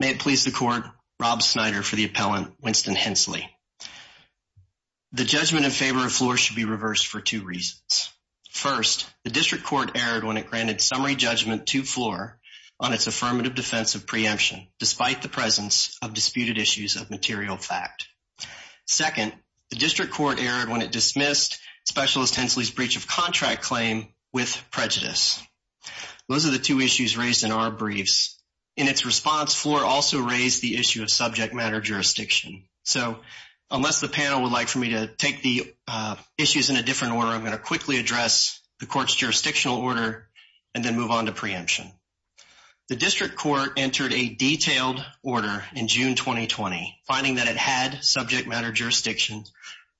May it please the court, Rob Snyder for the appellant, Winston Hencely. The judgment in favor of Fluor should be reversed for two reasons. First, the district court erred when it granted summary judgment to Fluor on its affirmative defense of preemption, despite the presence of disputed issues of material fact. Second, the district court erred when it dismissed Specialist Hencely's breach of contract claim with prejudice. Those are the two issues raised in our briefs. In its response, Fluor also raised the issue of subject matter jurisdiction. So unless the panel would like for me to take the issues in a different order, I'm going to quickly address the court's jurisdictional order and then move on to preemption. The district court entered a detailed order in June 2020, finding that it had subject matter jurisdiction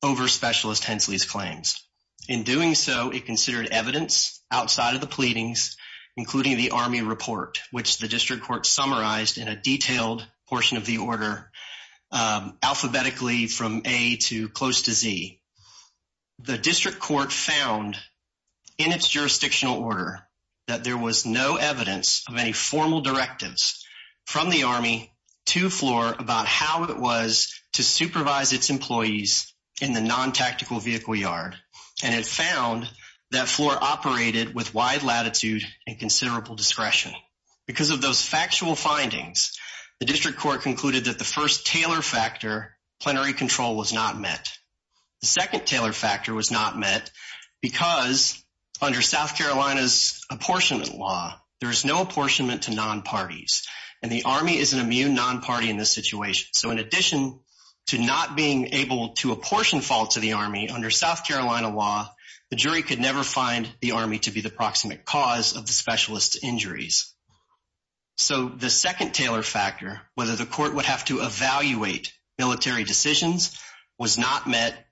over Specialist Hencely's claims. In doing so, it considered evidence outside of the pleadings, including the Army report, which the district court summarized in a detailed portion of the order, alphabetically from A to close to Z. The district court found in its jurisdictional order that there was no evidence of any formal directives from the Army to Fluor about how it was to supervise its employees in the non-tactical vehicle yard. And it found that Fluor operated with wide latitude and considerable discretion. Because of those factual findings, the district court concluded that the first Taylor factor, plenary control, was not met. The second Taylor factor was not met because under South Carolina's apportionment law, there is no apportionment to non-parties. And the Army is an immune non-party in this situation. So in addition to not being able to apportion fault to the Army, under South Carolina law, the jury could never find the Army to be the proximate cause of the specialist's injuries. So the second Taylor factor, whether the court would have to evaluate military decisions, was not met.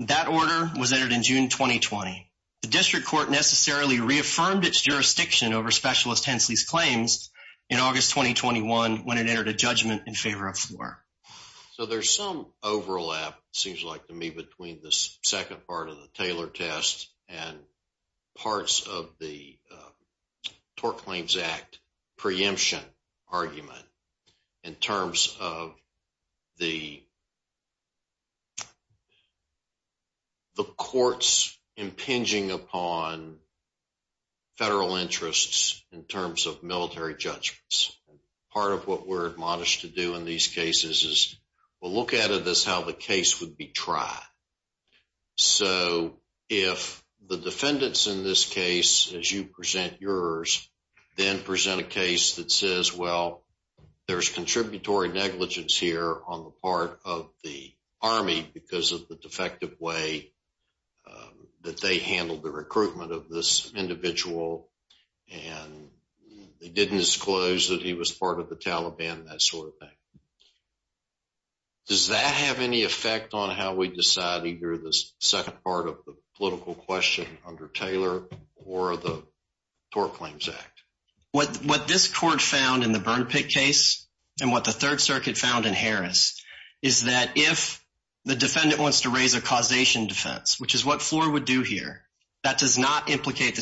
That order was entered in June 2020. The district court necessarily reaffirmed its jurisdiction over Specialist Hensley's claims in August 2021 when it entered a judgment in favor of Fluor. So there's some overlap, it seems like to me, between this second part of the Taylor test and parts of the Tort Claims Act preemption argument in terms of the courts impinging upon federal interests in terms of military judgments. Part of what we're admonished to do in these cases is we'll look at it as how the case would be tried. So if the defendants in this case, as you present yours, then present a case that says, well, there's contributory negligence here on the part of the Army because of the defective way that they handled the recruitment of this individual and they didn't disclose that he was part of the Taliban, that sort of thing. Does that have any effect on how we decide either the second part of the political question under Taylor or the Tort Claims Act? What this court found in the Burn Pit case and what the Third Circuit found in Harris is that if the defendant wants to raise a causation defense, which is what Fluor would do here, that does not implicate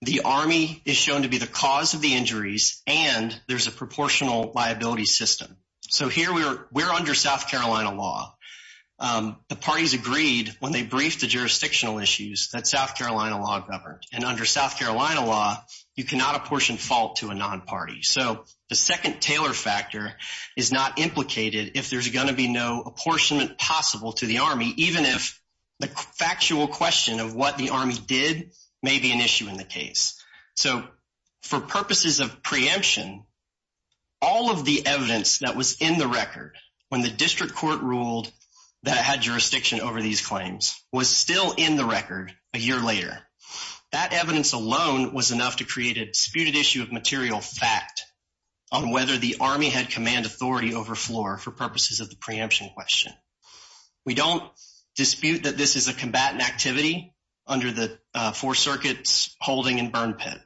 the Army is shown to be the cause of the injuries and there's a proportional liability system. So here we're under South Carolina law. The parties agreed when they briefed the jurisdictional issues that South Carolina law governed. And under South Carolina law, you cannot apportion fault to a non-party. So the second Taylor factor is not implicated if there's going to be no apportionment possible to the Army, even if the factual question of what the Army did may be an issue in the case. So for purposes of preemption, all of the evidence that was in the record when the district court ruled that it had jurisdiction over these claims was still in the record a year later. That evidence alone was enough to create a disputed issue of material fact on whether the Army had command authority over Fluor for purposes of the preemption question. We don't dispute that this is a combatant activity under the four circuits holding and burn pit.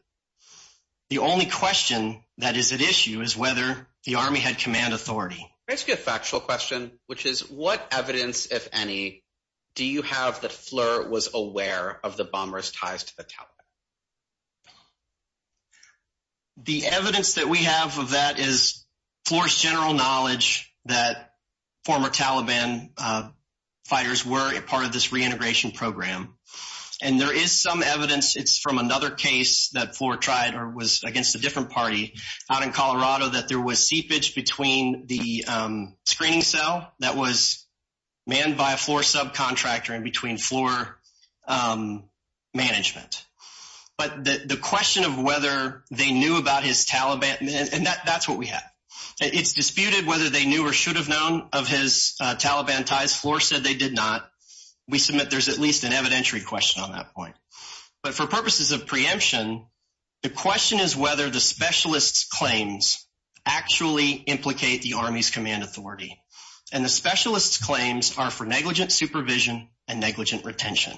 The only question that is at issue is whether the Army had command authority. Let's get a factual question, which is what evidence, if any, do you have that Fluor was aware of the bomber's ties to the Taliban? The evidence that we have of that is Fluor's general knowledge that former Taliban fighters were a part of this reintegration program. And there is some evidence, it's from another case that Fluor tried or was against a different party out in Colorado that there was seepage between the screening cell that was manned by a Fluor subcontractor in between Fluor management. But the question of whether they knew about his Taliban, and that's what we have. It's disputed whether they knew or should have known of his Taliban ties. Fluor said they did not. We submit there's at least an evidentiary question on that point. But for purposes of preemption, the question is whether the specialist's claims actually implicate the Army's command authority. And the specialist's claims are for negligent supervision and negligent retention.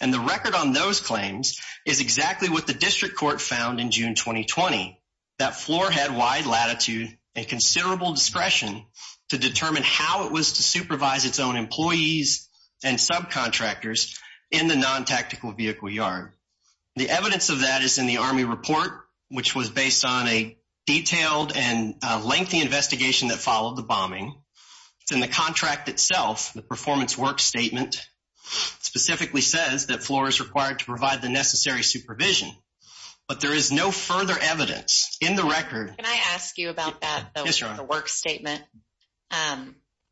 And the record on those claims is exactly what the district court found in June 2020, that Fluor had wide latitude and considerable discretion to determine how it was to supervise its own employees and subcontractors in the non-tactical vehicle yard. The evidence of that is in the Army report, which was based on a detailed and lengthy investigation that followed the bombing. In the contract itself, the performance work statement specifically says that Fluor is required to provide the necessary supervision. But there is no further evidence in the record. Can I ask you about that though, the work statement?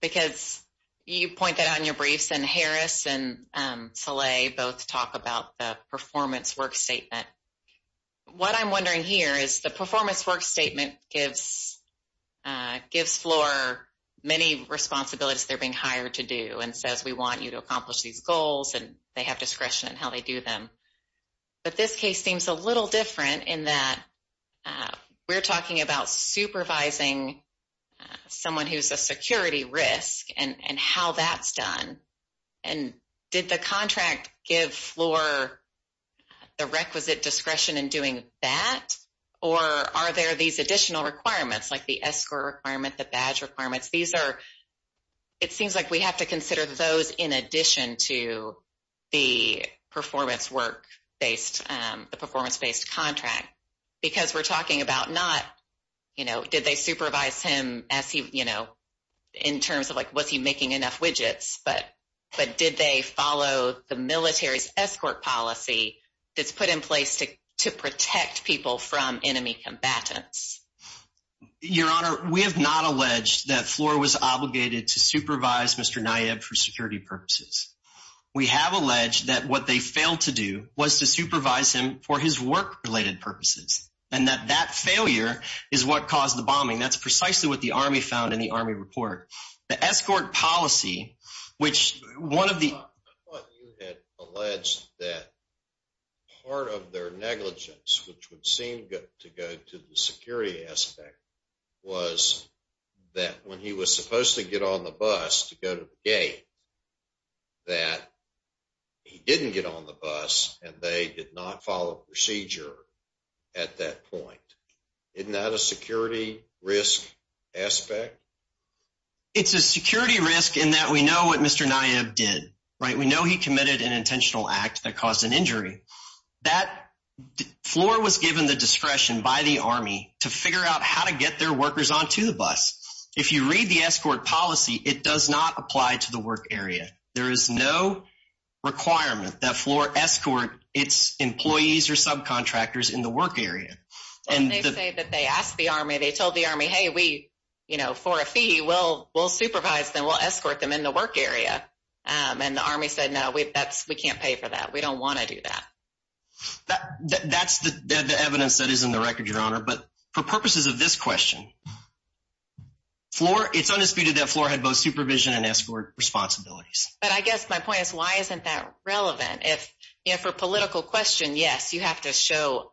Because you pointed out in your briefs and Harris and Salih both talk about the performance work statement. What I'm wondering here is the performance work statement gives Fluor many responsibilities they're being hired to do and says we want you to accomplish these goals and they have them. But this case seems a little different in that we're talking about supervising someone who's a security risk and how that's done. And did the contract give Fluor the requisite discretion in doing that? Or are there these additional requirements like the escrow requirement, the badge requirements? These are, it seems like we have to consider those in addition to the performance work based, the performance based contract. Because we're talking about not, you know, did they supervise him as he, you know, in terms of like, was he making enough widgets? But did they follow the military's escort policy that's put in place to protect people from enemy combatants? Your Honor, we have not alleged that purposes. We have alleged that what they failed to do was to supervise him for his work-related purposes, and that that failure is what caused the bombing. That's precisely what the Army found in the Army report. The escort policy, which one of the- I thought you had alleged that part of their negligence, which would seem to go to the security aspect, was that when he was supposed to get on the bus to go to the gate, that he didn't get on the bus and they did not follow procedure at that point. Isn't that a security risk aspect? It's a security risk in that we know what Mr. Nyeb did, right? We know he committed an intentional act that caused an injury. That- Fluor was given the discretion by the Army to figure out how to get their workers onto the bus. The escort policy, it does not apply to the work area. There is no requirement that Fluor escort its employees or subcontractors in the work area. And they say that they asked the Army, they told the Army, hey, we, you know, for a fee, we'll supervise them, we'll escort them in the work area. And the Army said, no, we can't pay for that. We don't want to do that. That's the evidence that is in the record, Your Honor. But for purposes of this question, Fluor, it's undisputed that Fluor had both supervision and escort responsibilities. But I guess my point is, why isn't that relevant? If, you know, for political question, yes, you have to show,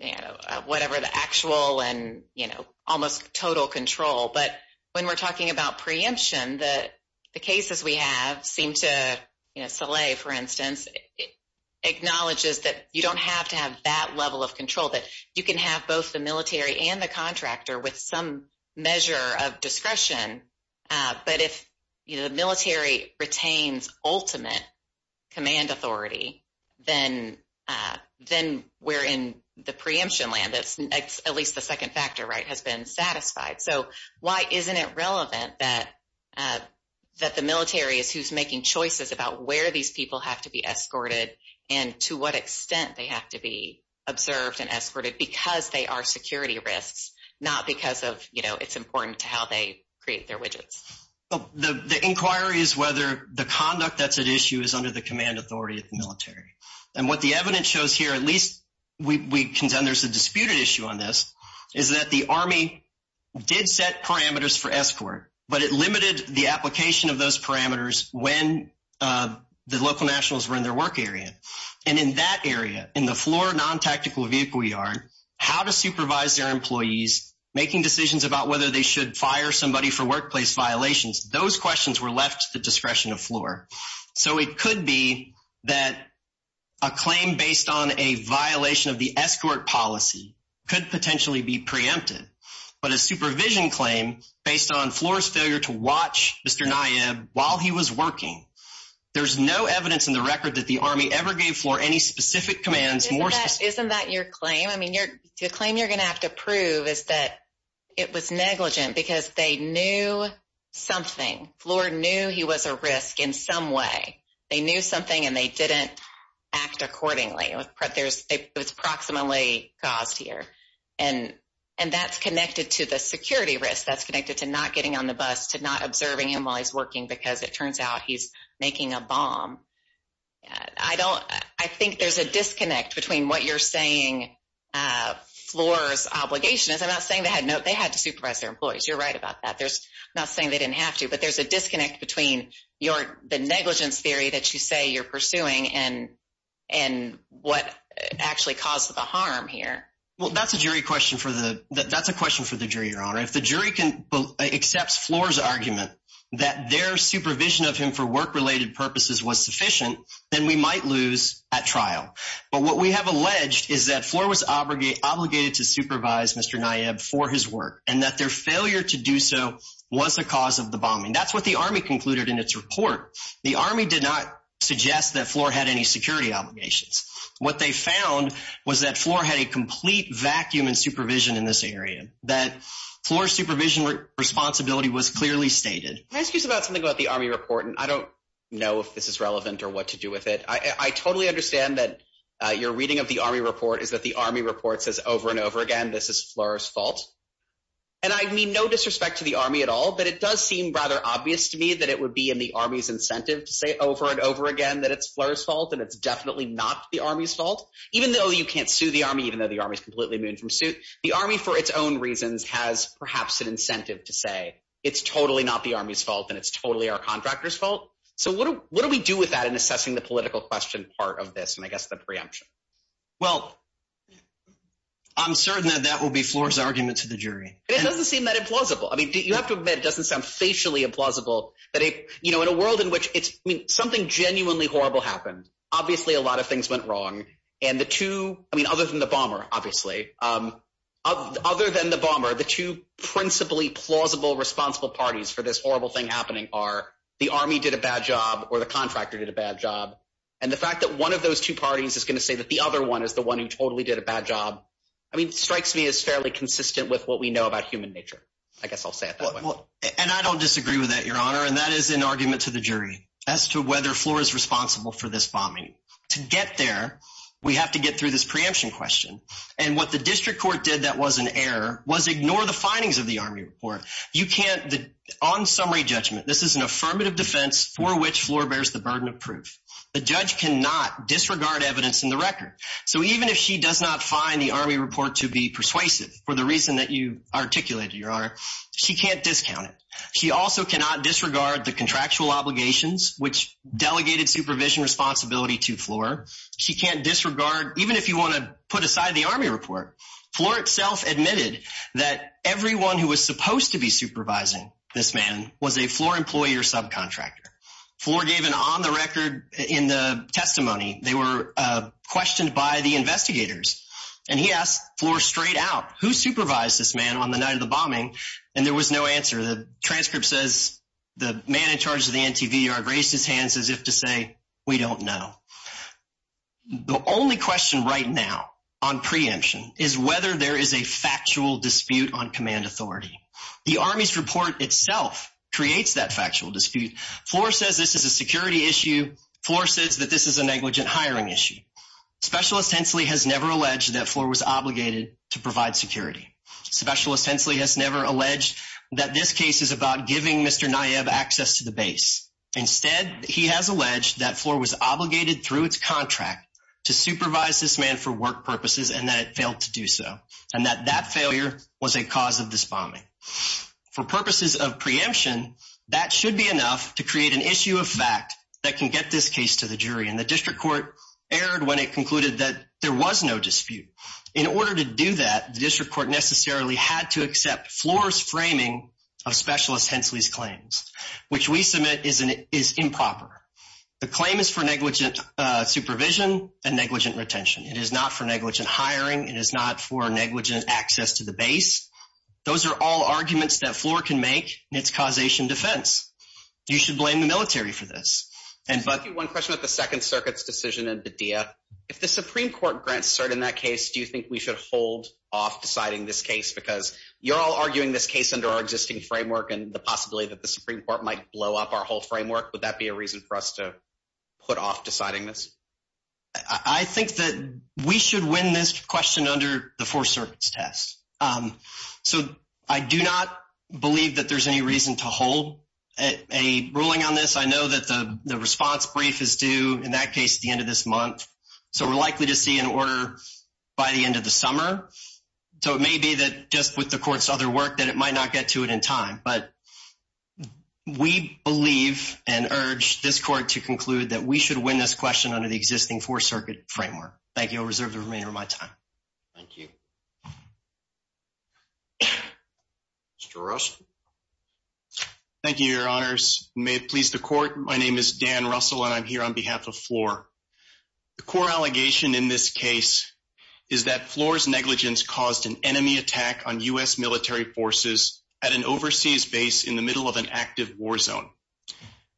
you know, whatever the actual and, you know, almost total control. But when we're talking about preemption, the cases we have seem to, you know, Saleh, for instance, acknowledges that you don't have to have that level of control, that you can have both the measure of discretion. But if the military retains ultimate command authority, then we're in the preemption land. That's at least the second factor, right, has been satisfied. So why isn't it relevant that the military is who's making choices about where these people have to be escorted, and to what extent they have to be observed and escorted because they are security risks, not because of, you know, it's important to how they create their widgets. The inquiry is whether the conduct that's at issue is under the command authority of the military. And what the evidence shows here, at least we contend there's a disputed issue on this, is that the Army did set parameters for escort, but it limited the application of those parameters when the local nationals were in their work area. And in that area, in the Fluor non-tactical vehicle yard, how to supervise their employees, making decisions about whether they should fire somebody for workplace violations, those questions were left to the discretion of Fluor. So it could be that a claim based on a violation of the escort policy could potentially be preempted. But a supervision claim based on Fluor's failure to watch Mr. Nayib while he was working, there's no evidence in the record that the Army ever gave Fluor any specific commands. Isn't that your claim? I mean, the claim you're going to have to prove is that it was negligent because they knew something. Fluor knew he was a risk in some way. They knew something and they didn't act accordingly. It was proximately caused here. And that's connected to the security risk. That's connected to not getting on the bus, to not observing him while he's working because it you're saying Fluor's obligation is, I'm not saying they had to supervise their employees. You're right about that. I'm not saying they didn't have to, but there's a disconnect between the negligence theory that you say you're pursuing and what actually caused the harm here. Well, that's a question for the jury, Your Honor. If the jury accepts Fluor's argument that their supervision of him for work-related purposes was sufficient, then we might lose at trial. But what we have alleged is that Fluor was obligated to supervise Mr. Nayeb for his work and that their failure to do so was the cause of the bombing. That's what the Army concluded in its report. The Army did not suggest that Fluor had any security obligations. What they found was that Fluor had a complete vacuum in supervision in this area, that Fluor's supervision responsibility was clearly stated. Can I ask you about something about the Army report? And I don't know if this is relevant or what to do with it. I totally understand that your reading of the Army report is that the Army report says over and over again, this is Fluor's fault. And I mean no disrespect to the Army at all, but it does seem rather obvious to me that it would be in the Army's incentive to say over and over again that it's Fluor's fault and it's definitely not the Army's fault. Even though you can't sue the Army, even though the Army is completely immune from suit, the Army, for its own reasons, has perhaps an incentive to say it's totally not the Army's fault and it's assessing the political question part of this and I guess the preemption. Well, I'm certain that that will be Fluor's argument to the jury. It doesn't seem that implausible. I mean, you have to admit, it doesn't sound facially implausible that it, you know, in a world in which it's, I mean, something genuinely horrible happened. Obviously, a lot of things went wrong. And the two, I mean, other than the bomber, obviously, other than the bomber, the two principally plausible responsible parties for this horrible thing happening are the Army did a bad job or the contractor did a bad job. And the fact that one of those two parties is going to say that the other one is the one who totally did a bad job, I mean, strikes me as fairly consistent with what we know about human nature. I guess I'll say it that way. And I don't disagree with that, Your Honor. And that is an argument to the jury as to whether Fluor is responsible for this bombing. To get there, we have to get through this preemption question. And what the District Court did that was an error, was ignore the findings of the Army report. You can't, on summary judgment, this is an affirmative defense for which Fluor bears the burden of proof. The judge cannot disregard evidence in the record. So even if she does not find the Army report to be persuasive for the reason that you articulated, Your Honor, she can't discount it. She also cannot disregard the contractual obligations, which delegated supervision responsibility to Fluor. She can't admit that everyone who was supposed to be supervising this man was a Fluor employee or subcontractor. Fluor gave an on-the-record testimony. They were questioned by the investigators. And he asked Fluor straight out, who supervised this man on the night of the bombing? And there was no answer. The transcript says the man in charge of the NTVR raised his hands as if to say, we don't know. The only question right now on preemption is whether there is a factual dispute on command authority. The Army's report itself creates that factual dispute. Fluor says this is a security issue. Fluor says that this is a negligent hiring issue. Specialist Hensley has never alleged that Fluor was obligated to provide security. Specialist Hensley has never alleged that this case is about giving Mr. Nayeb access to the base. Instead, he has alleged that Fluor was obligated through its contract to supervise this man for work purposes, and that it failed to do so, and that that failure was a cause of this bombing. For purposes of preemption, that should be enough to create an issue of fact that can get this case to the jury. And the district court erred when it concluded that there was no dispute. In order to do that, district court necessarily had to accept Fluor's framing of Specialist Hensley's claims, which we submit is improper. The claim is for negligent supervision and negligent retention. It is not for negligent hiring. It is not for negligent access to the base. Those are all arguments that Fluor can make in its causation defense. You should blame the military for this. And one question about the Second Circuit's decision in Badia. If the Supreme Court grants in that case, do you think we should hold off deciding this case? Because you're all arguing this case under our existing framework and the possibility that the Supreme Court might blow up our whole framework. Would that be a reason for us to put off deciding this? I think that we should win this question under the Fourth Circuit's test. So I do not believe that there's any reason to hold a ruling on this. I know that the response brief is due in that case at the end of this by the end of the summer. So it may be that just with the court's other work that it might not get to it in time. But we believe and urge this court to conclude that we should win this question under the existing Fourth Circuit framework. Thank you. I'll reserve the remainder of my time. Thank you. Mr. Russell. Thank you, Your Honors. May it please the court. My name is Dan Russell and I'm here on behalf of is that Floor's negligence caused an enemy attack on U.S. military forces at an overseas base in the middle of an active war zone.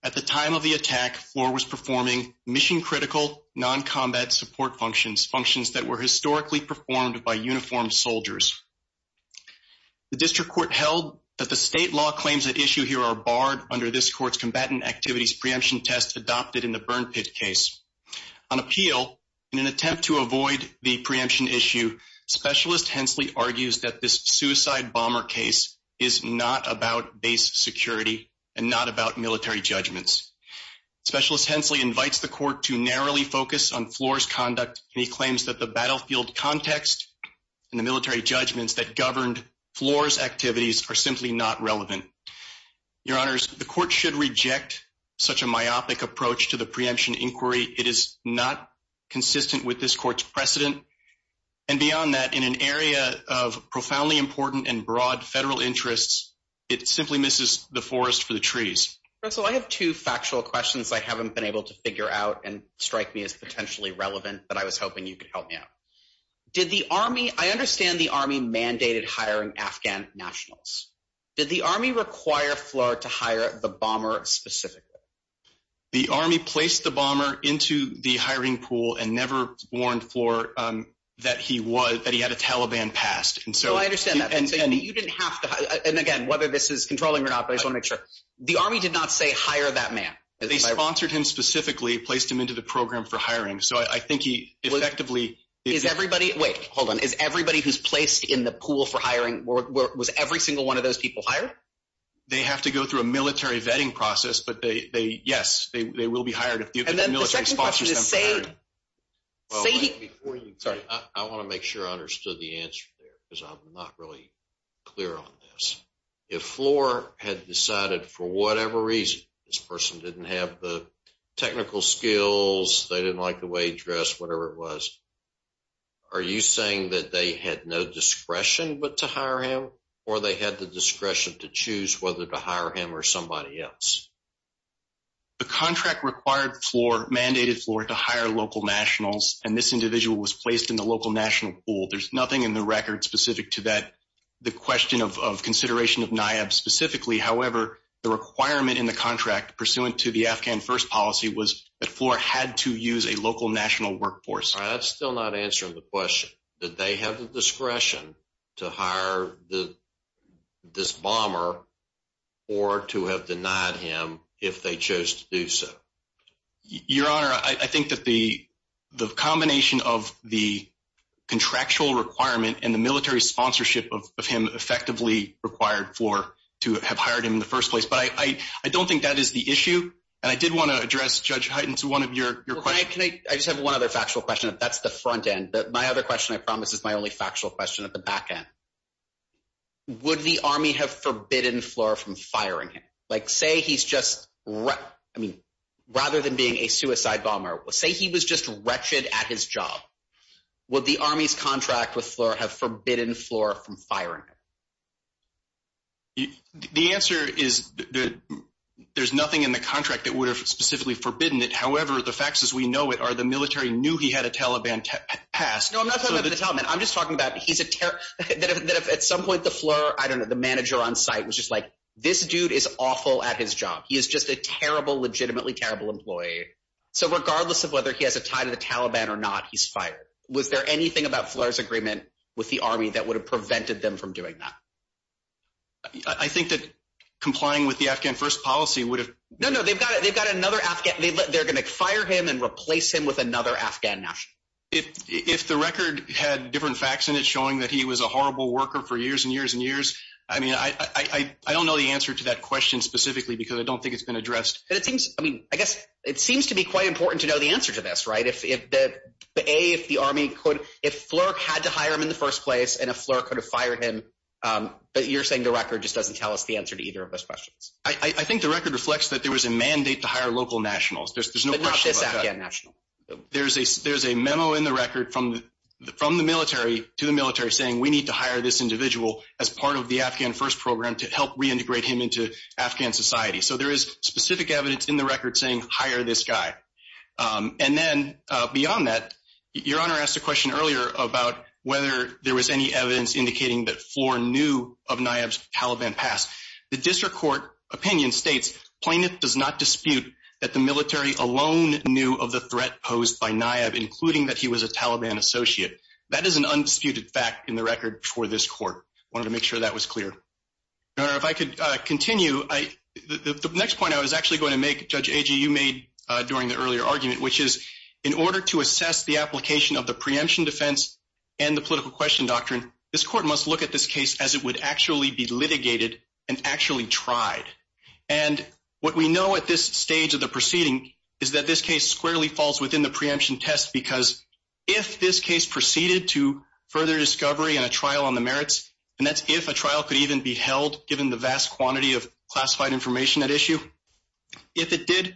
At the time of the attack, Floor was performing mission-critical, non-combat support functions, functions that were historically performed by uniformed soldiers. The district court held that the state law claims at issue here are barred under this court's combatant activities preemption test adopted in the Burn Pit case. On appeal, in an attempt to avoid the preemption issue, Specialist Hensley argues that this suicide bomber case is not about base security and not about military judgments. Specialist Hensley invites the court to narrowly focus on Floor's conduct and he claims that the battlefield context and the military judgments that governed Floor's activities are simply not relevant. Your Honors, the court should reject such a myopic approach to the preemption inquiry. It is not consistent with this court's precedent and beyond that, in an area of profoundly important and broad federal interests, it simply misses the forest for the trees. Russell, I have two factual questions I haven't been able to figure out and strike me as potentially relevant but I was hoping you could help me out. Did the Army, I understand the Army mandated hiring Afghan nationals. Did the Army require Floor to hire the bomber specifically? The Army placed the bomber into the hiring pool and never warned Floor that he was, that he had a Taliban past and so I understand that and you didn't have to and again whether this is controlling or not but I just want to make sure. The Army did not say hire that man. They sponsored him specifically, placed him into the program for hiring so I think he effectively. Is everybody, wait hold on, is everybody who's placed in the pool for hiring, was every single one of those people hired? They have to go through a military vetting process but they yes, they will be hired if the military sponsors them for hiring. And then the second question is say, say before you. Sorry, I want to make sure I understood the answer there because I'm not really clear on this. If Floor had decided for whatever reason this person didn't have the technical skills, they didn't like the way he dressed, whatever it was, are you saying that they had no discretion but to hire him or they had the discretion to choose whether to hire him or somebody else? The contract required Floor, mandated Floor to hire local nationals and this individual was placed in the local national pool. There's nothing in the record specific to that, the question of consideration of NIAB specifically. However, the requirement in the contract pursuant to the Afghan first policy was that Floor had to use a local national workforce. That's still not answering the question. Did they have the discretion to hire this bomber or to have him if they chose to do so? Your Honor, I think that the combination of the contractual requirement and the military sponsorship of him effectively required Floor to have hired him in the first place. But I don't think that is the issue and I did want to address Judge Hyten to one of your questions. I just have one other factual question. That's the front end. My other question I promise is my only factual question at the back end. Would the army have forbidden Floor from firing him? Like say he's just, I mean, rather than being a suicide bomber, say he was just wretched at his job. Would the army's contract with Floor have forbidden Floor from firing him? The answer is that there's nothing in the contract that would have specifically forbidden it. However, the facts as we know it are the military knew he had a Taliban past. No, I'm not talking about the Taliban. I'm just talking about he's a terrorist, that if at some point the Floor, I don't know, the manager on site was just like, this dude is awful at his job. He is just a terrible, legitimately terrible employee. So regardless of whether he has a tie to the Taliban or not, he's fired. Was there anything about Floor's agreement with the army that would have prevented them from doing that? I think that complying with the Afghan first policy would have... No, no, they've got another Afghan. They're going to fire him and replace him with another Afghan national. If the record had different facts in it showing that he was a horrible worker for years and years and years, I mean, I don't know the answer to that question specifically, because I don't think it's been addressed. But it seems, I mean, I guess it seems to be quite important to know the answer to this, right? If the army could, if Floor had to hire him in the first place and if Floor could have fired him, but you're saying the record just doesn't tell us the answer to either of those questions. I think the record reflects that there was a There's a memo in the record from the military to the military saying we need to hire this individual as part of the Afghan first program to help reintegrate him into Afghan society. So there is specific evidence in the record saying hire this guy. And then beyond that, your honor asked a question earlier about whether there was any evidence indicating that Floor knew of Nayeb's Taliban past. The district court opinion states plaintiff does not dispute that the military alone knew of the threat posed by Nayeb, including that he was a Taliban associate. That is an undisputed fact in the record for this court. I wanted to make sure that was clear. If I could continue, the next point I was actually going to make, Judge Agee, you made during the earlier argument, which is in order to assess the application of the preemption defense and the political question doctrine, this court must look at this case as it would actually be is that this case squarely falls within the preemption test. Because if this case proceeded to further discovery and a trial on the merits, and that's if a trial could even be held, given the vast quantity of classified information at issue, if it did,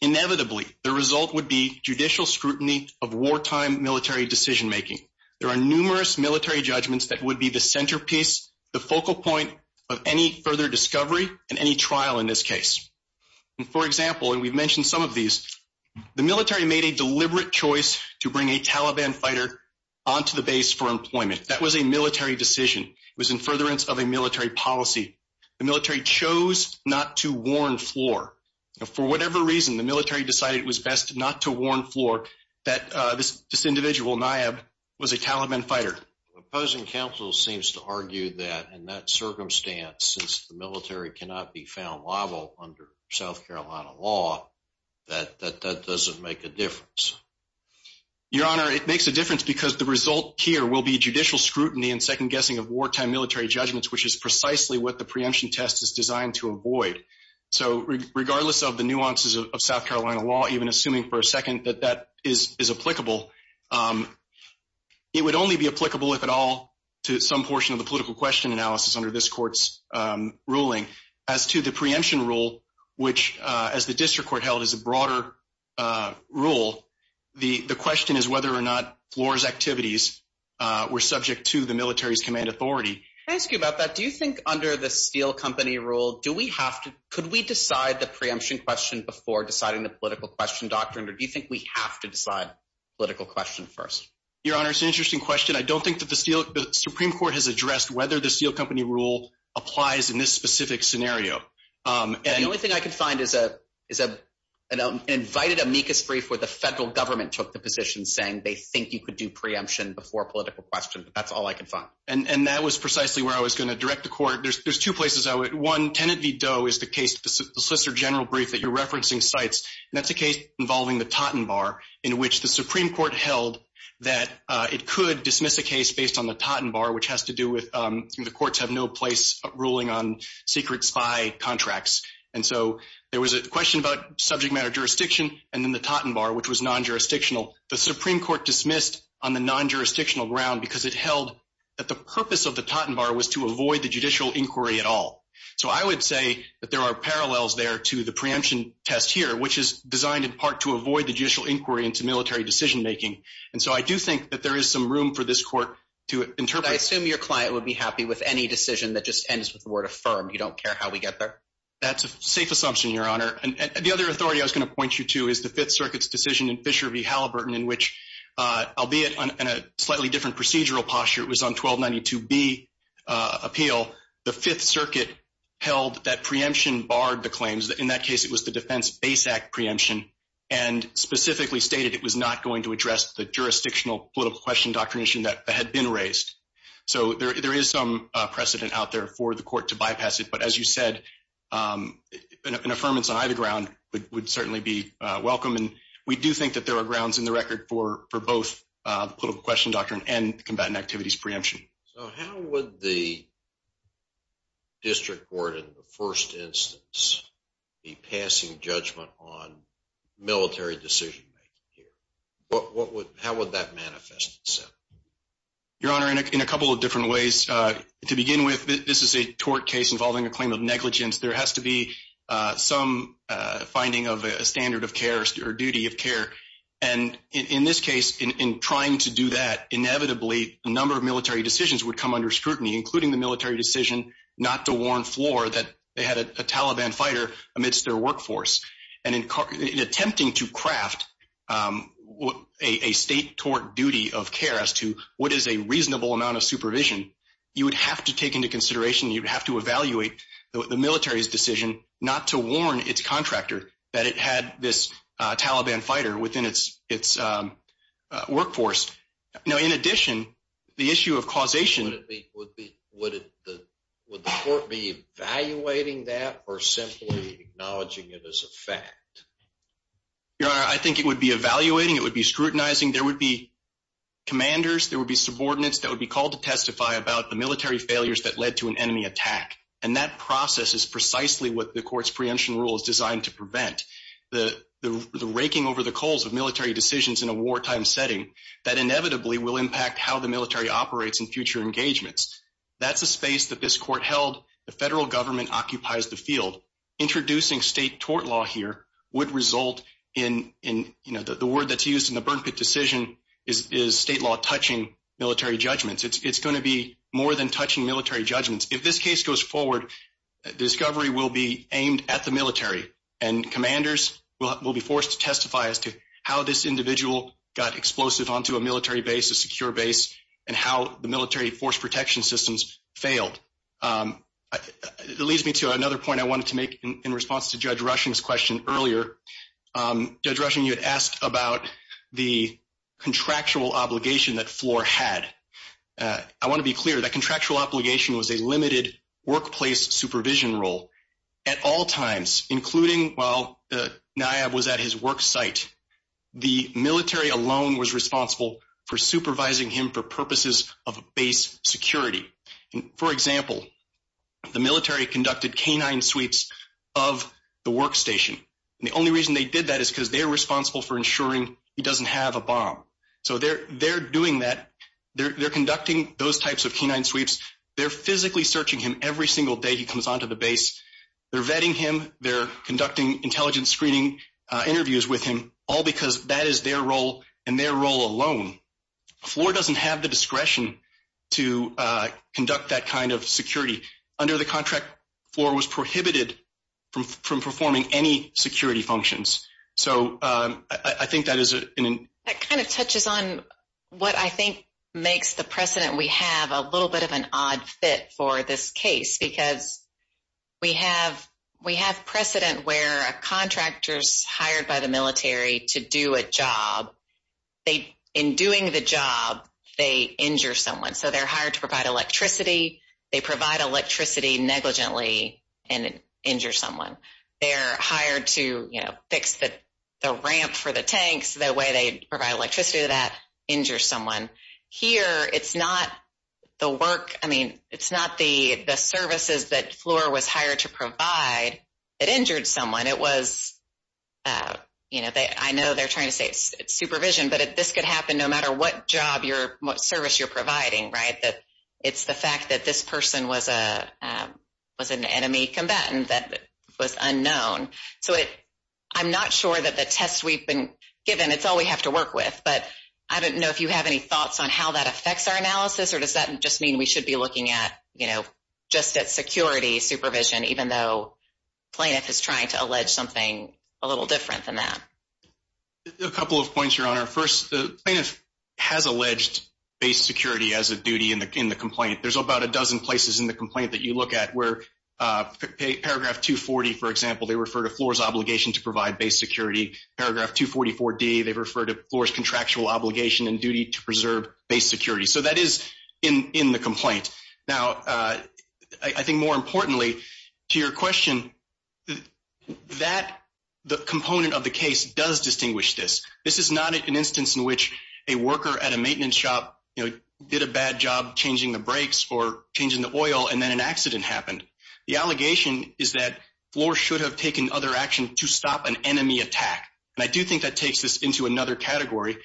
inevitably, the result would be judicial scrutiny of wartime military decision making. There are numerous military judgments that would be the centerpiece, the focal point of any further discovery and any trial in this case. For example, and we've mentioned some of these, the military made a deliberate choice to bring a Taliban fighter onto the base for employment. That was a military decision. It was in furtherance of a military policy. The military chose not to warn floor. For whatever reason, the military decided it was best not to warn floor that this individual Nayeb was a Taliban fighter. Opposing counsel seems to argue that in that circumstance, since the military cannot be found under South Carolina law, that doesn't make a difference. Your Honor, it makes a difference because the result here will be judicial scrutiny and second guessing of wartime military judgments, which is precisely what the preemption test is designed to avoid. So regardless of the nuances of South Carolina law, even assuming for a second that that is applicable, it would only be applicable, if at all, to some portion of the political question analysis under this court's ruling. As to the preemption rule, which as the district court held is a broader rule, the question is whether or not floor's activities were subject to the military's command authority. Can I ask you about that? Do you think under the steel company rule, could we decide the preemption question before deciding the political question doctrine, or do you think we have to decide political question first? Your Honor, it's an interesting question. The Supreme Court has addressed whether the steel company rule applies in this specific scenario. The only thing I could find is an invited amicus brief where the federal government took the position saying they think you could do preemption before political question, but that's all I could find. And that was precisely where I was going to direct the court. There's two places I would. One, Tenet v. Doe is the case, the Solicitor General brief that you're referencing cites, and that's a case involving the Totten Bar, in which the Supreme Court held that it could dismiss a case based on the Totten Bar, which has to do with the courts have no place ruling on secret spy contracts. And so there was a question about subject matter jurisdiction, and then the Totten Bar, which was non-jurisdictional. The Supreme Court dismissed on the non-jurisdictional ground because it held that the purpose of the Totten Bar was to avoid the judicial inquiry at all. So I would say that there are parallels there to the preemption test here, which is designed in part to avoid the judicial inquiry into military decision making. And so I do think that there is some room for this court to interpret. But I assume your client would be happy with any decision that just ends with the word affirmed. You don't care how we get there? That's a safe assumption, Your Honor. And the other authority I was going to point you to is the Fifth Circuit's decision in Fisher v. Halliburton, in which, albeit in a slightly different procedural posture, it was on 1292b appeal, the Fifth Circuit held that preemption barred the claims. In that case, it was the Defense Base Act preemption, and specifically stated it was not going to address the jurisdictional political question doctrine issue that had been raised. So there is some precedent out there for the court to bypass it. But as you said, an affirmance on either ground would certainly be welcome. And we do think that there are grounds in the record for both the political question doctrine and the combatant activities preemption. So how would the district court in the first instance be passing judgment on military decision making here? How would that manifest itself? Your Honor, in a couple of different ways. To begin with, this is a tort case involving a claim of negligence. There has to be some finding of a standard of care or duty of care. And in this case, in trying to do that, inevitably, a number of military decisions would come under scrutiny, including the military decision not to warn Floor that they had a Taliban fighter amidst their workforce. And in attempting to craft a state tort duty of care as to what is a reasonable amount of supervision, you would have to take into consideration, you'd have to evaluate the military's decision not to warn its contractor that it had this Taliban fighter within its workforce. Now, in addition, the issue of causation would be evaluating that or simply acknowledging it as a fact? Your Honor, I think it would be evaluating, it would be scrutinizing, there would be commanders, there would be subordinates that would be called to testify about the military failures that led to an enemy attack. And that process is precisely what the court's preemption rule is designed to prevent. The raking over the coals of military decisions in a wartime setting that inevitably will impact how the military operates in future engagements. That's a space that this court held, the federal government occupies the field. Introducing state tort law here would result in, you know, the word that's used in the burn pit decision is state law touching military judgments. It's going to be more than touching military judgments. If this case goes forward, the discovery will be aimed at the military and commanders will be forced to testify as to how this individual got explosive onto a military base, a secure base, and how the military force protection systems failed. It leads me to another point I wanted to make in response to Judge Rushing's question earlier. Judge Rushing, you had asked about the contractual obligation that Floor had. I want to be clear, that contractual obligation was a limited workplace supervision role at all times, including while the NIAB was at his work site. The military alone was responsible for supervising him for purposes of base security. For example, the military conducted canine sweeps of the workstation. The only reason they did that is because they're responsible for ensuring he doesn't have a bomb. So they're doing that. They're conducting those types of canine sweeps. They're physically searching him every single day he comes onto the base. They're vetting him. They're conducting intelligence screening interviews with him, all because that is their role and their role alone. Floor doesn't have the discretion to conduct that kind of security. Under the contract, Floor was prohibited from doing that. We have a little bit of an odd fit for this case. We have precedent where a contractor is hired by the military to do a job. In doing the job, they injure someone. So they're hired to provide electricity. They provide electricity negligently and injure someone. They're hired to fix the ramp for the tanks. The way they provide electricity to that injures someone. Here, it's not the work. I mean, it's not the services that Floor was hired to provide that injured someone. I know they're trying to say it's supervision, but this could happen no matter what job, what service you're providing. It's the fact that this person was an enemy combatant that was unknown. So I'm not sure that the tests we've been given, it's all we have to work with. But I don't know if you have any thoughts on how that affects our analysis, or does that just mean we should be looking at just that security supervision, even though plaintiff is trying to allege something a little different than that? A couple of points, Your Honor. First, the plaintiff has alleged base security as a duty in the complaint. There's about a dozen places in the complaint that you look at where paragraph 240, for example, they refer to Floor's obligation to provide base security. Paragraph 244D, they refer to Floor's contractual obligation and duty to preserve base security. So that is in the complaint. Now, I think more importantly to your question, the component of the case does distinguish this. This is not an instance in which a worker at a maintenance shop did a bad job changing the brakes or changing the oil, and then an accident happened. The allegation is that Floor should have taken other action to stop an enemy attack. And I do think that takes this into another category.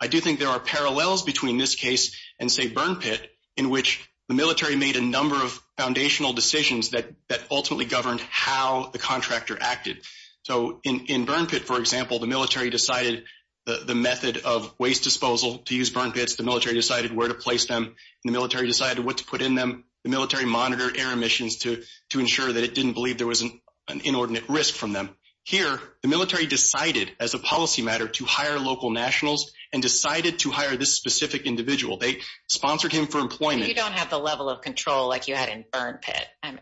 I do think there are parallels between this case and, say, Burn Pit, in which the military made a number of foundational decisions that ultimately governed how the contractor acted. So in Burn Pit, for example, the military decided the method of waste disposal to use Burn Pits, the military decided where to monitor air emissions to ensure that it didn't believe there was an inordinate risk from them. Here, the military decided as a policy matter to hire local nationals and decided to hire this specific individual. They sponsored him for employment. You don't have the level of control like you had in Burn Pit, and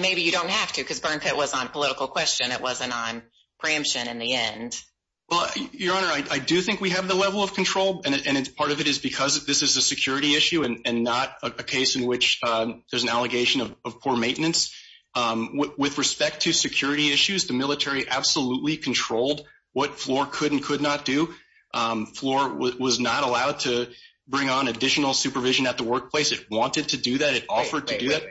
maybe you don't have to because Burn Pit was on political question. It wasn't on preemption in the end. Well, Your Honor, I do think we have the level of control, and part of it is because this is a security issue and not a case in which there's an allegation of poor maintenance. With respect to security issues, the military absolutely controlled what Floor could and could not do. Floor was not allowed to bring on additional supervision at the workplace. It wanted to do that. It offered to do that.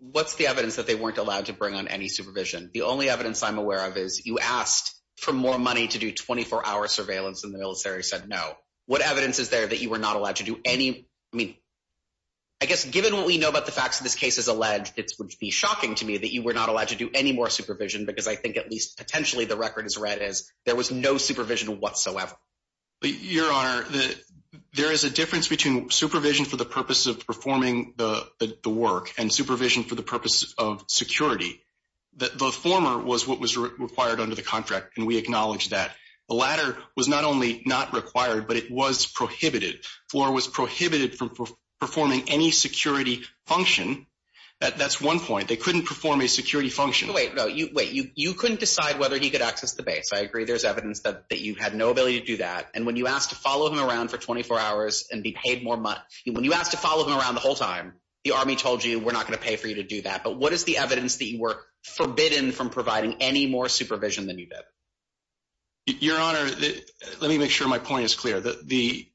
What's the evidence that they weren't allowed to bring on any supervision? The only evidence I'm aware of is you asked for more money to do 24-hour surveillance, and the military said no. What evidence is there that you were not allowed to do any? I mean, I guess given what we know about the facts of this case as alleged, it would be shocking to me that you were not allowed to do any more supervision because I think at least potentially the record is read as there was no supervision whatsoever. Your Honor, there is a difference between supervision for the purpose of performing the work and supervision for the purpose of security. The former was what was required under the contract, and we acknowledge that. The latter was not only not required, but it was prohibited. Floor was prohibited from performing any security function. That's one point. They couldn't perform a security function. Wait, wait. You couldn't decide whether he could access the base. I agree there's evidence that you had no ability to do that. And when you asked to follow him around for 24 hours and be paid more money, when you asked to follow him around the whole time, the army told you we're not going to pay for you to do that. But what is the evidence that you were forbidden from providing any more supervision than you did? Your Honor, let me make sure my point is clear. The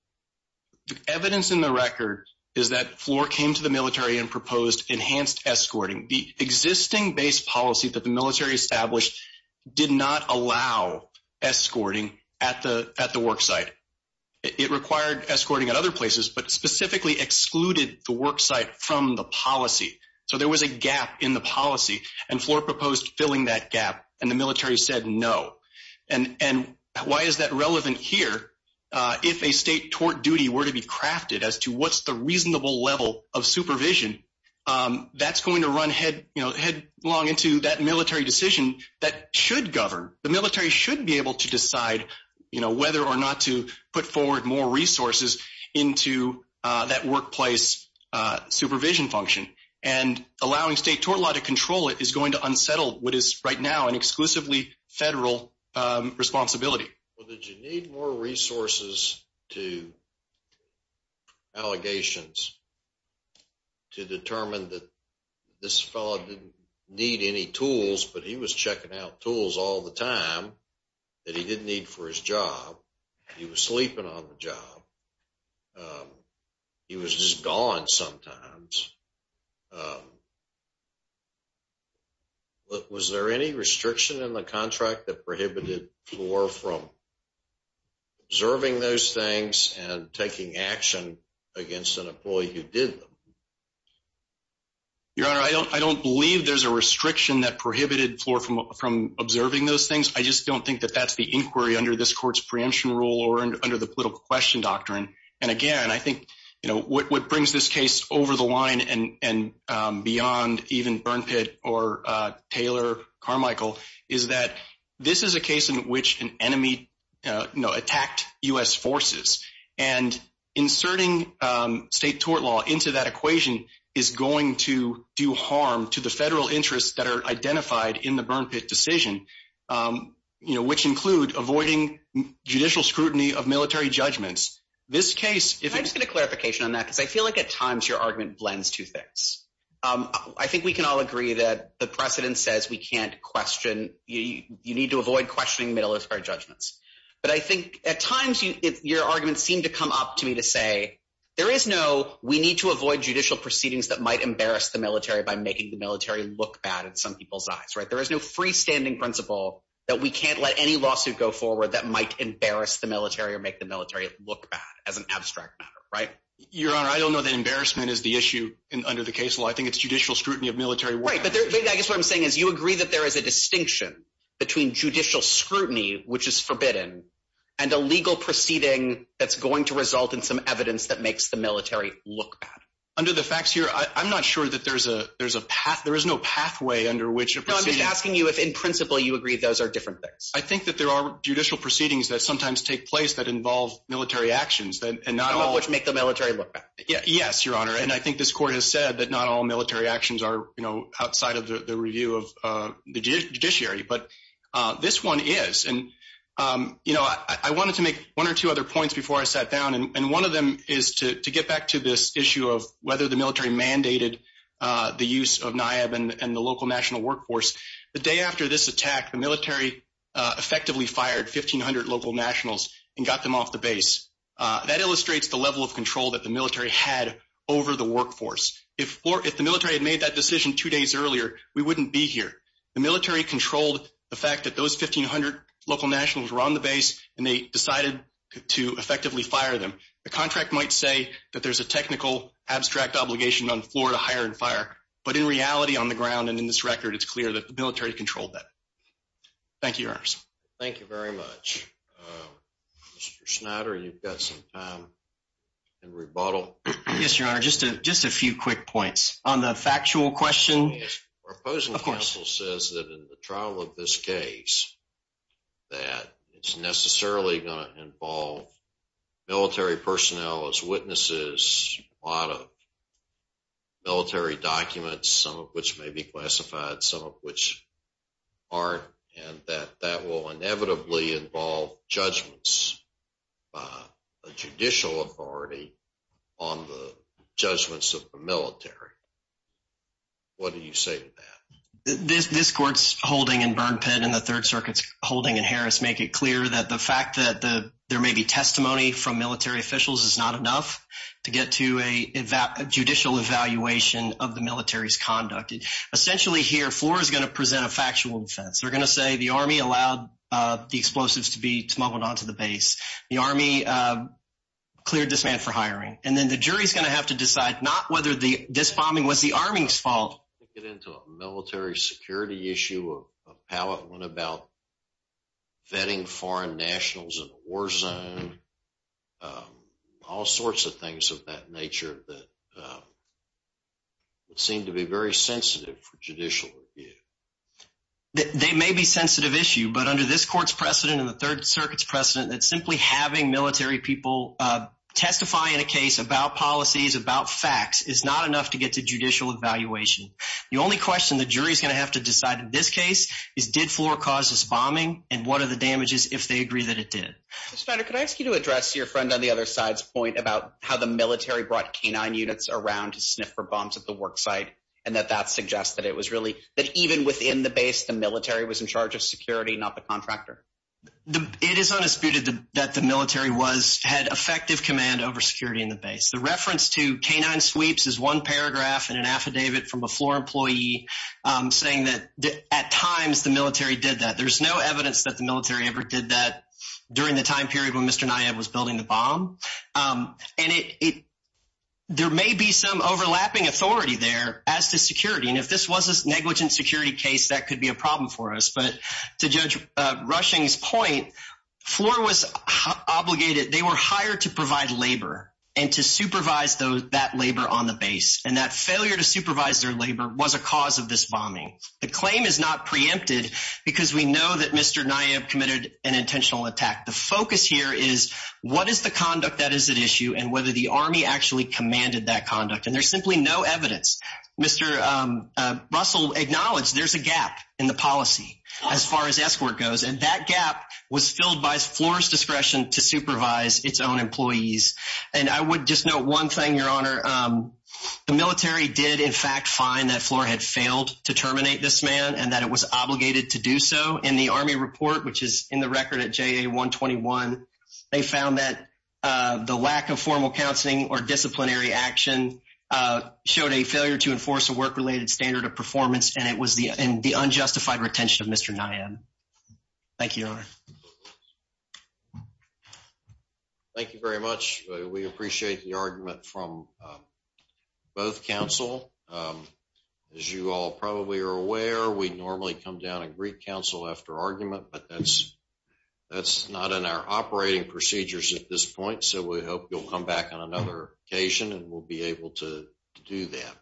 evidence in the record is that Floor came to the military and proposed enhanced escorting. The existing base policy that the military established did not allow escorting at the worksite. It required escorting at other places, but specifically excluded the worksite from the policy. So there was a gap in the policy, and Floor proposed filling that gap, and the military said no. And why is that relevant here? If a state tort duty were to be crafted as to what's the reasonable level of supervision, that's going to run headlong into that military decision that should govern. The military should be able to decide whether or not to put forward more resources into that workplace supervision function. And allowing state tort law to control it is going to unsettle what is right now an exclusively federal responsibility. Well, did you need more resources to allegations to determine that this fellow didn't need any tools, but he was checking out tools all the time that he didn't need for his job. He was sleeping on the job. He was just gone sometimes. Was there any restriction in the contract that prohibited Floor from observing those things and taking action against an employee who did them? Your Honor, I don't believe there's a restriction. I just don't think that's the inquiry under this court's preemption rule or under the political question doctrine. And again, I think what brings this case over the line and beyond even Burn Pit or Taylor Carmichael is that this is a case in which an enemy attacked U.S. forces. And inserting state tort law into that equation is going to do harm to the federal interests that are identified in the Burn Pit decision, which include avoiding judicial scrutiny of military judgments. Can I just get a clarification on that? Because I feel like at times your argument blends two things. I think we can all agree that the precedent says we can't question. You need to avoid questioning military judgments. But I think at times your arguments seem to come up to me to say, there is no, we need to avoid judicial proceedings that make the military look bad in some people's eyes, right? There is no freestanding principle that we can't let any lawsuit go forward that might embarrass the military or make the military look bad as an abstract matter, right? Your Honor, I don't know that embarrassment is the issue under the case law. I think it's judicial scrutiny of military. Right. But I guess what I'm saying is you agree that there is a distinction between judicial scrutiny, which is forbidden and a legal proceeding that's going to result in some evidence that makes the military look bad. Under the facts here, I'm not sure that there's a, there's a path, there is no pathway under which I'm just asking you if in principle you agree those are different things. I think that there are judicial proceedings that sometimes take place that involve military actions and not all which make the military look bad. Yes, Your Honor. And I think this court has said that not all military actions are, you know, outside of the review of the judiciary, but this one is. And you know, I wanted to make one or two other points before I sat down. And one of them is to get back to this issue of whether the military mandated the use of NIAB and the local national workforce. The day after this attack, the military effectively fired 1,500 local nationals and got them off the base. That illustrates the level of control that the military had over the workforce. If the military had made that decision two days earlier, we wouldn't be here. The military controlled the fact that those 1,500 local nationals were on the base and they decided to effectively fire them. The contract might say that there's a technical abstract obligation on floor to hire and fire, but in reality on the ground and in this record, it's clear that the military controlled that. Thank you, Your Honors. Thank you very much. Mr. Schneider, you've got some time in rebuttal. Yes, Your Honor. Just a few quick points on the factual question. Our opposing counsel says that in the trial of this case, that it's necessarily going to involve military personnel as witnesses, a lot of military documents, some of which may be classified, some of which aren't, and that that will inevitably involve judgments by a judicial authority on the judgments of the military. What do you say to that? This court's holding in Burn Pit and the Third Circuit's holding in Harris make it clear that the fact that there may be testimony from military officials is not enough to get to a judicial evaluation of the military's conduct. Essentially here, floor is going to present a factual defense. They're going to say the army allowed the explosives to be smuggled onto the base, the army cleared this man for hiring, and then the jury's going to have to decide not whether this bombing was the army's fault. Get into a military security issue, a pallet one about vetting foreign nationals in a war zone, all sorts of things of that nature that seem to be very sensitive for judicial review. They may be a sensitive issue, but under this court's precedent and the Third Circuit's precedent, that simply having military people testify in a case about policies, about facts, is not enough to get to judicial evaluation. The only question the jury's going to have to decide in this case is did floor cause this bombing, and what are the damages if they agree that it did? Mr. Snyder, could I ask you to address your friend on the other side's point about how the military brought canine units around to sniff for bombs at the work site, and that that suggests that it was even within the base, the military was in charge of security, not the contractor? It is undisputed that the military had effective command over security in the base. The reference to canine sweeps is one paragraph in an affidavit from a floor employee saying that at times the military did that. There's no evidence that the military ever did that during the time period when Mr. Nye was building the bomb. There may be some overlapping authority there as to security, and if this was a negligent security case, that could be a problem for us, but to Judge Rushing's point, floor was obligated, they were hired to provide labor and to supervise that labor on the base, and that failure to supervise their labor was a cause of this bombing. The claim is not preempted because we know that Mr. Nye committed an intentional attack. The focus here is what is the conduct that is at issue and whether the army actually commanded that conduct, and there's simply no evidence. Mr. Russell acknowledged there's a gap in the policy as far as escort goes, and that gap was filled by floor's discretion to supervise its own employees, and I would just note one thing, Your Honor. The military did in fact find that floor had failed to terminate this man and that it was obligated to do so in the army report, which is in the record at JA 121. They found that the lack of formal counseling or disciplinary action showed a failure to enforce a work-related standard of performance, and it was the unjustified retention of Mr. Nye. Thank you, Your Honor. Thank you very much. We appreciate the argument from both counsel. As you all probably are aware, we normally come down and greet counsel after argument, but that's not in our operating procedures at this point, so we hope you'll come back on another occasion and we'll be able to do that.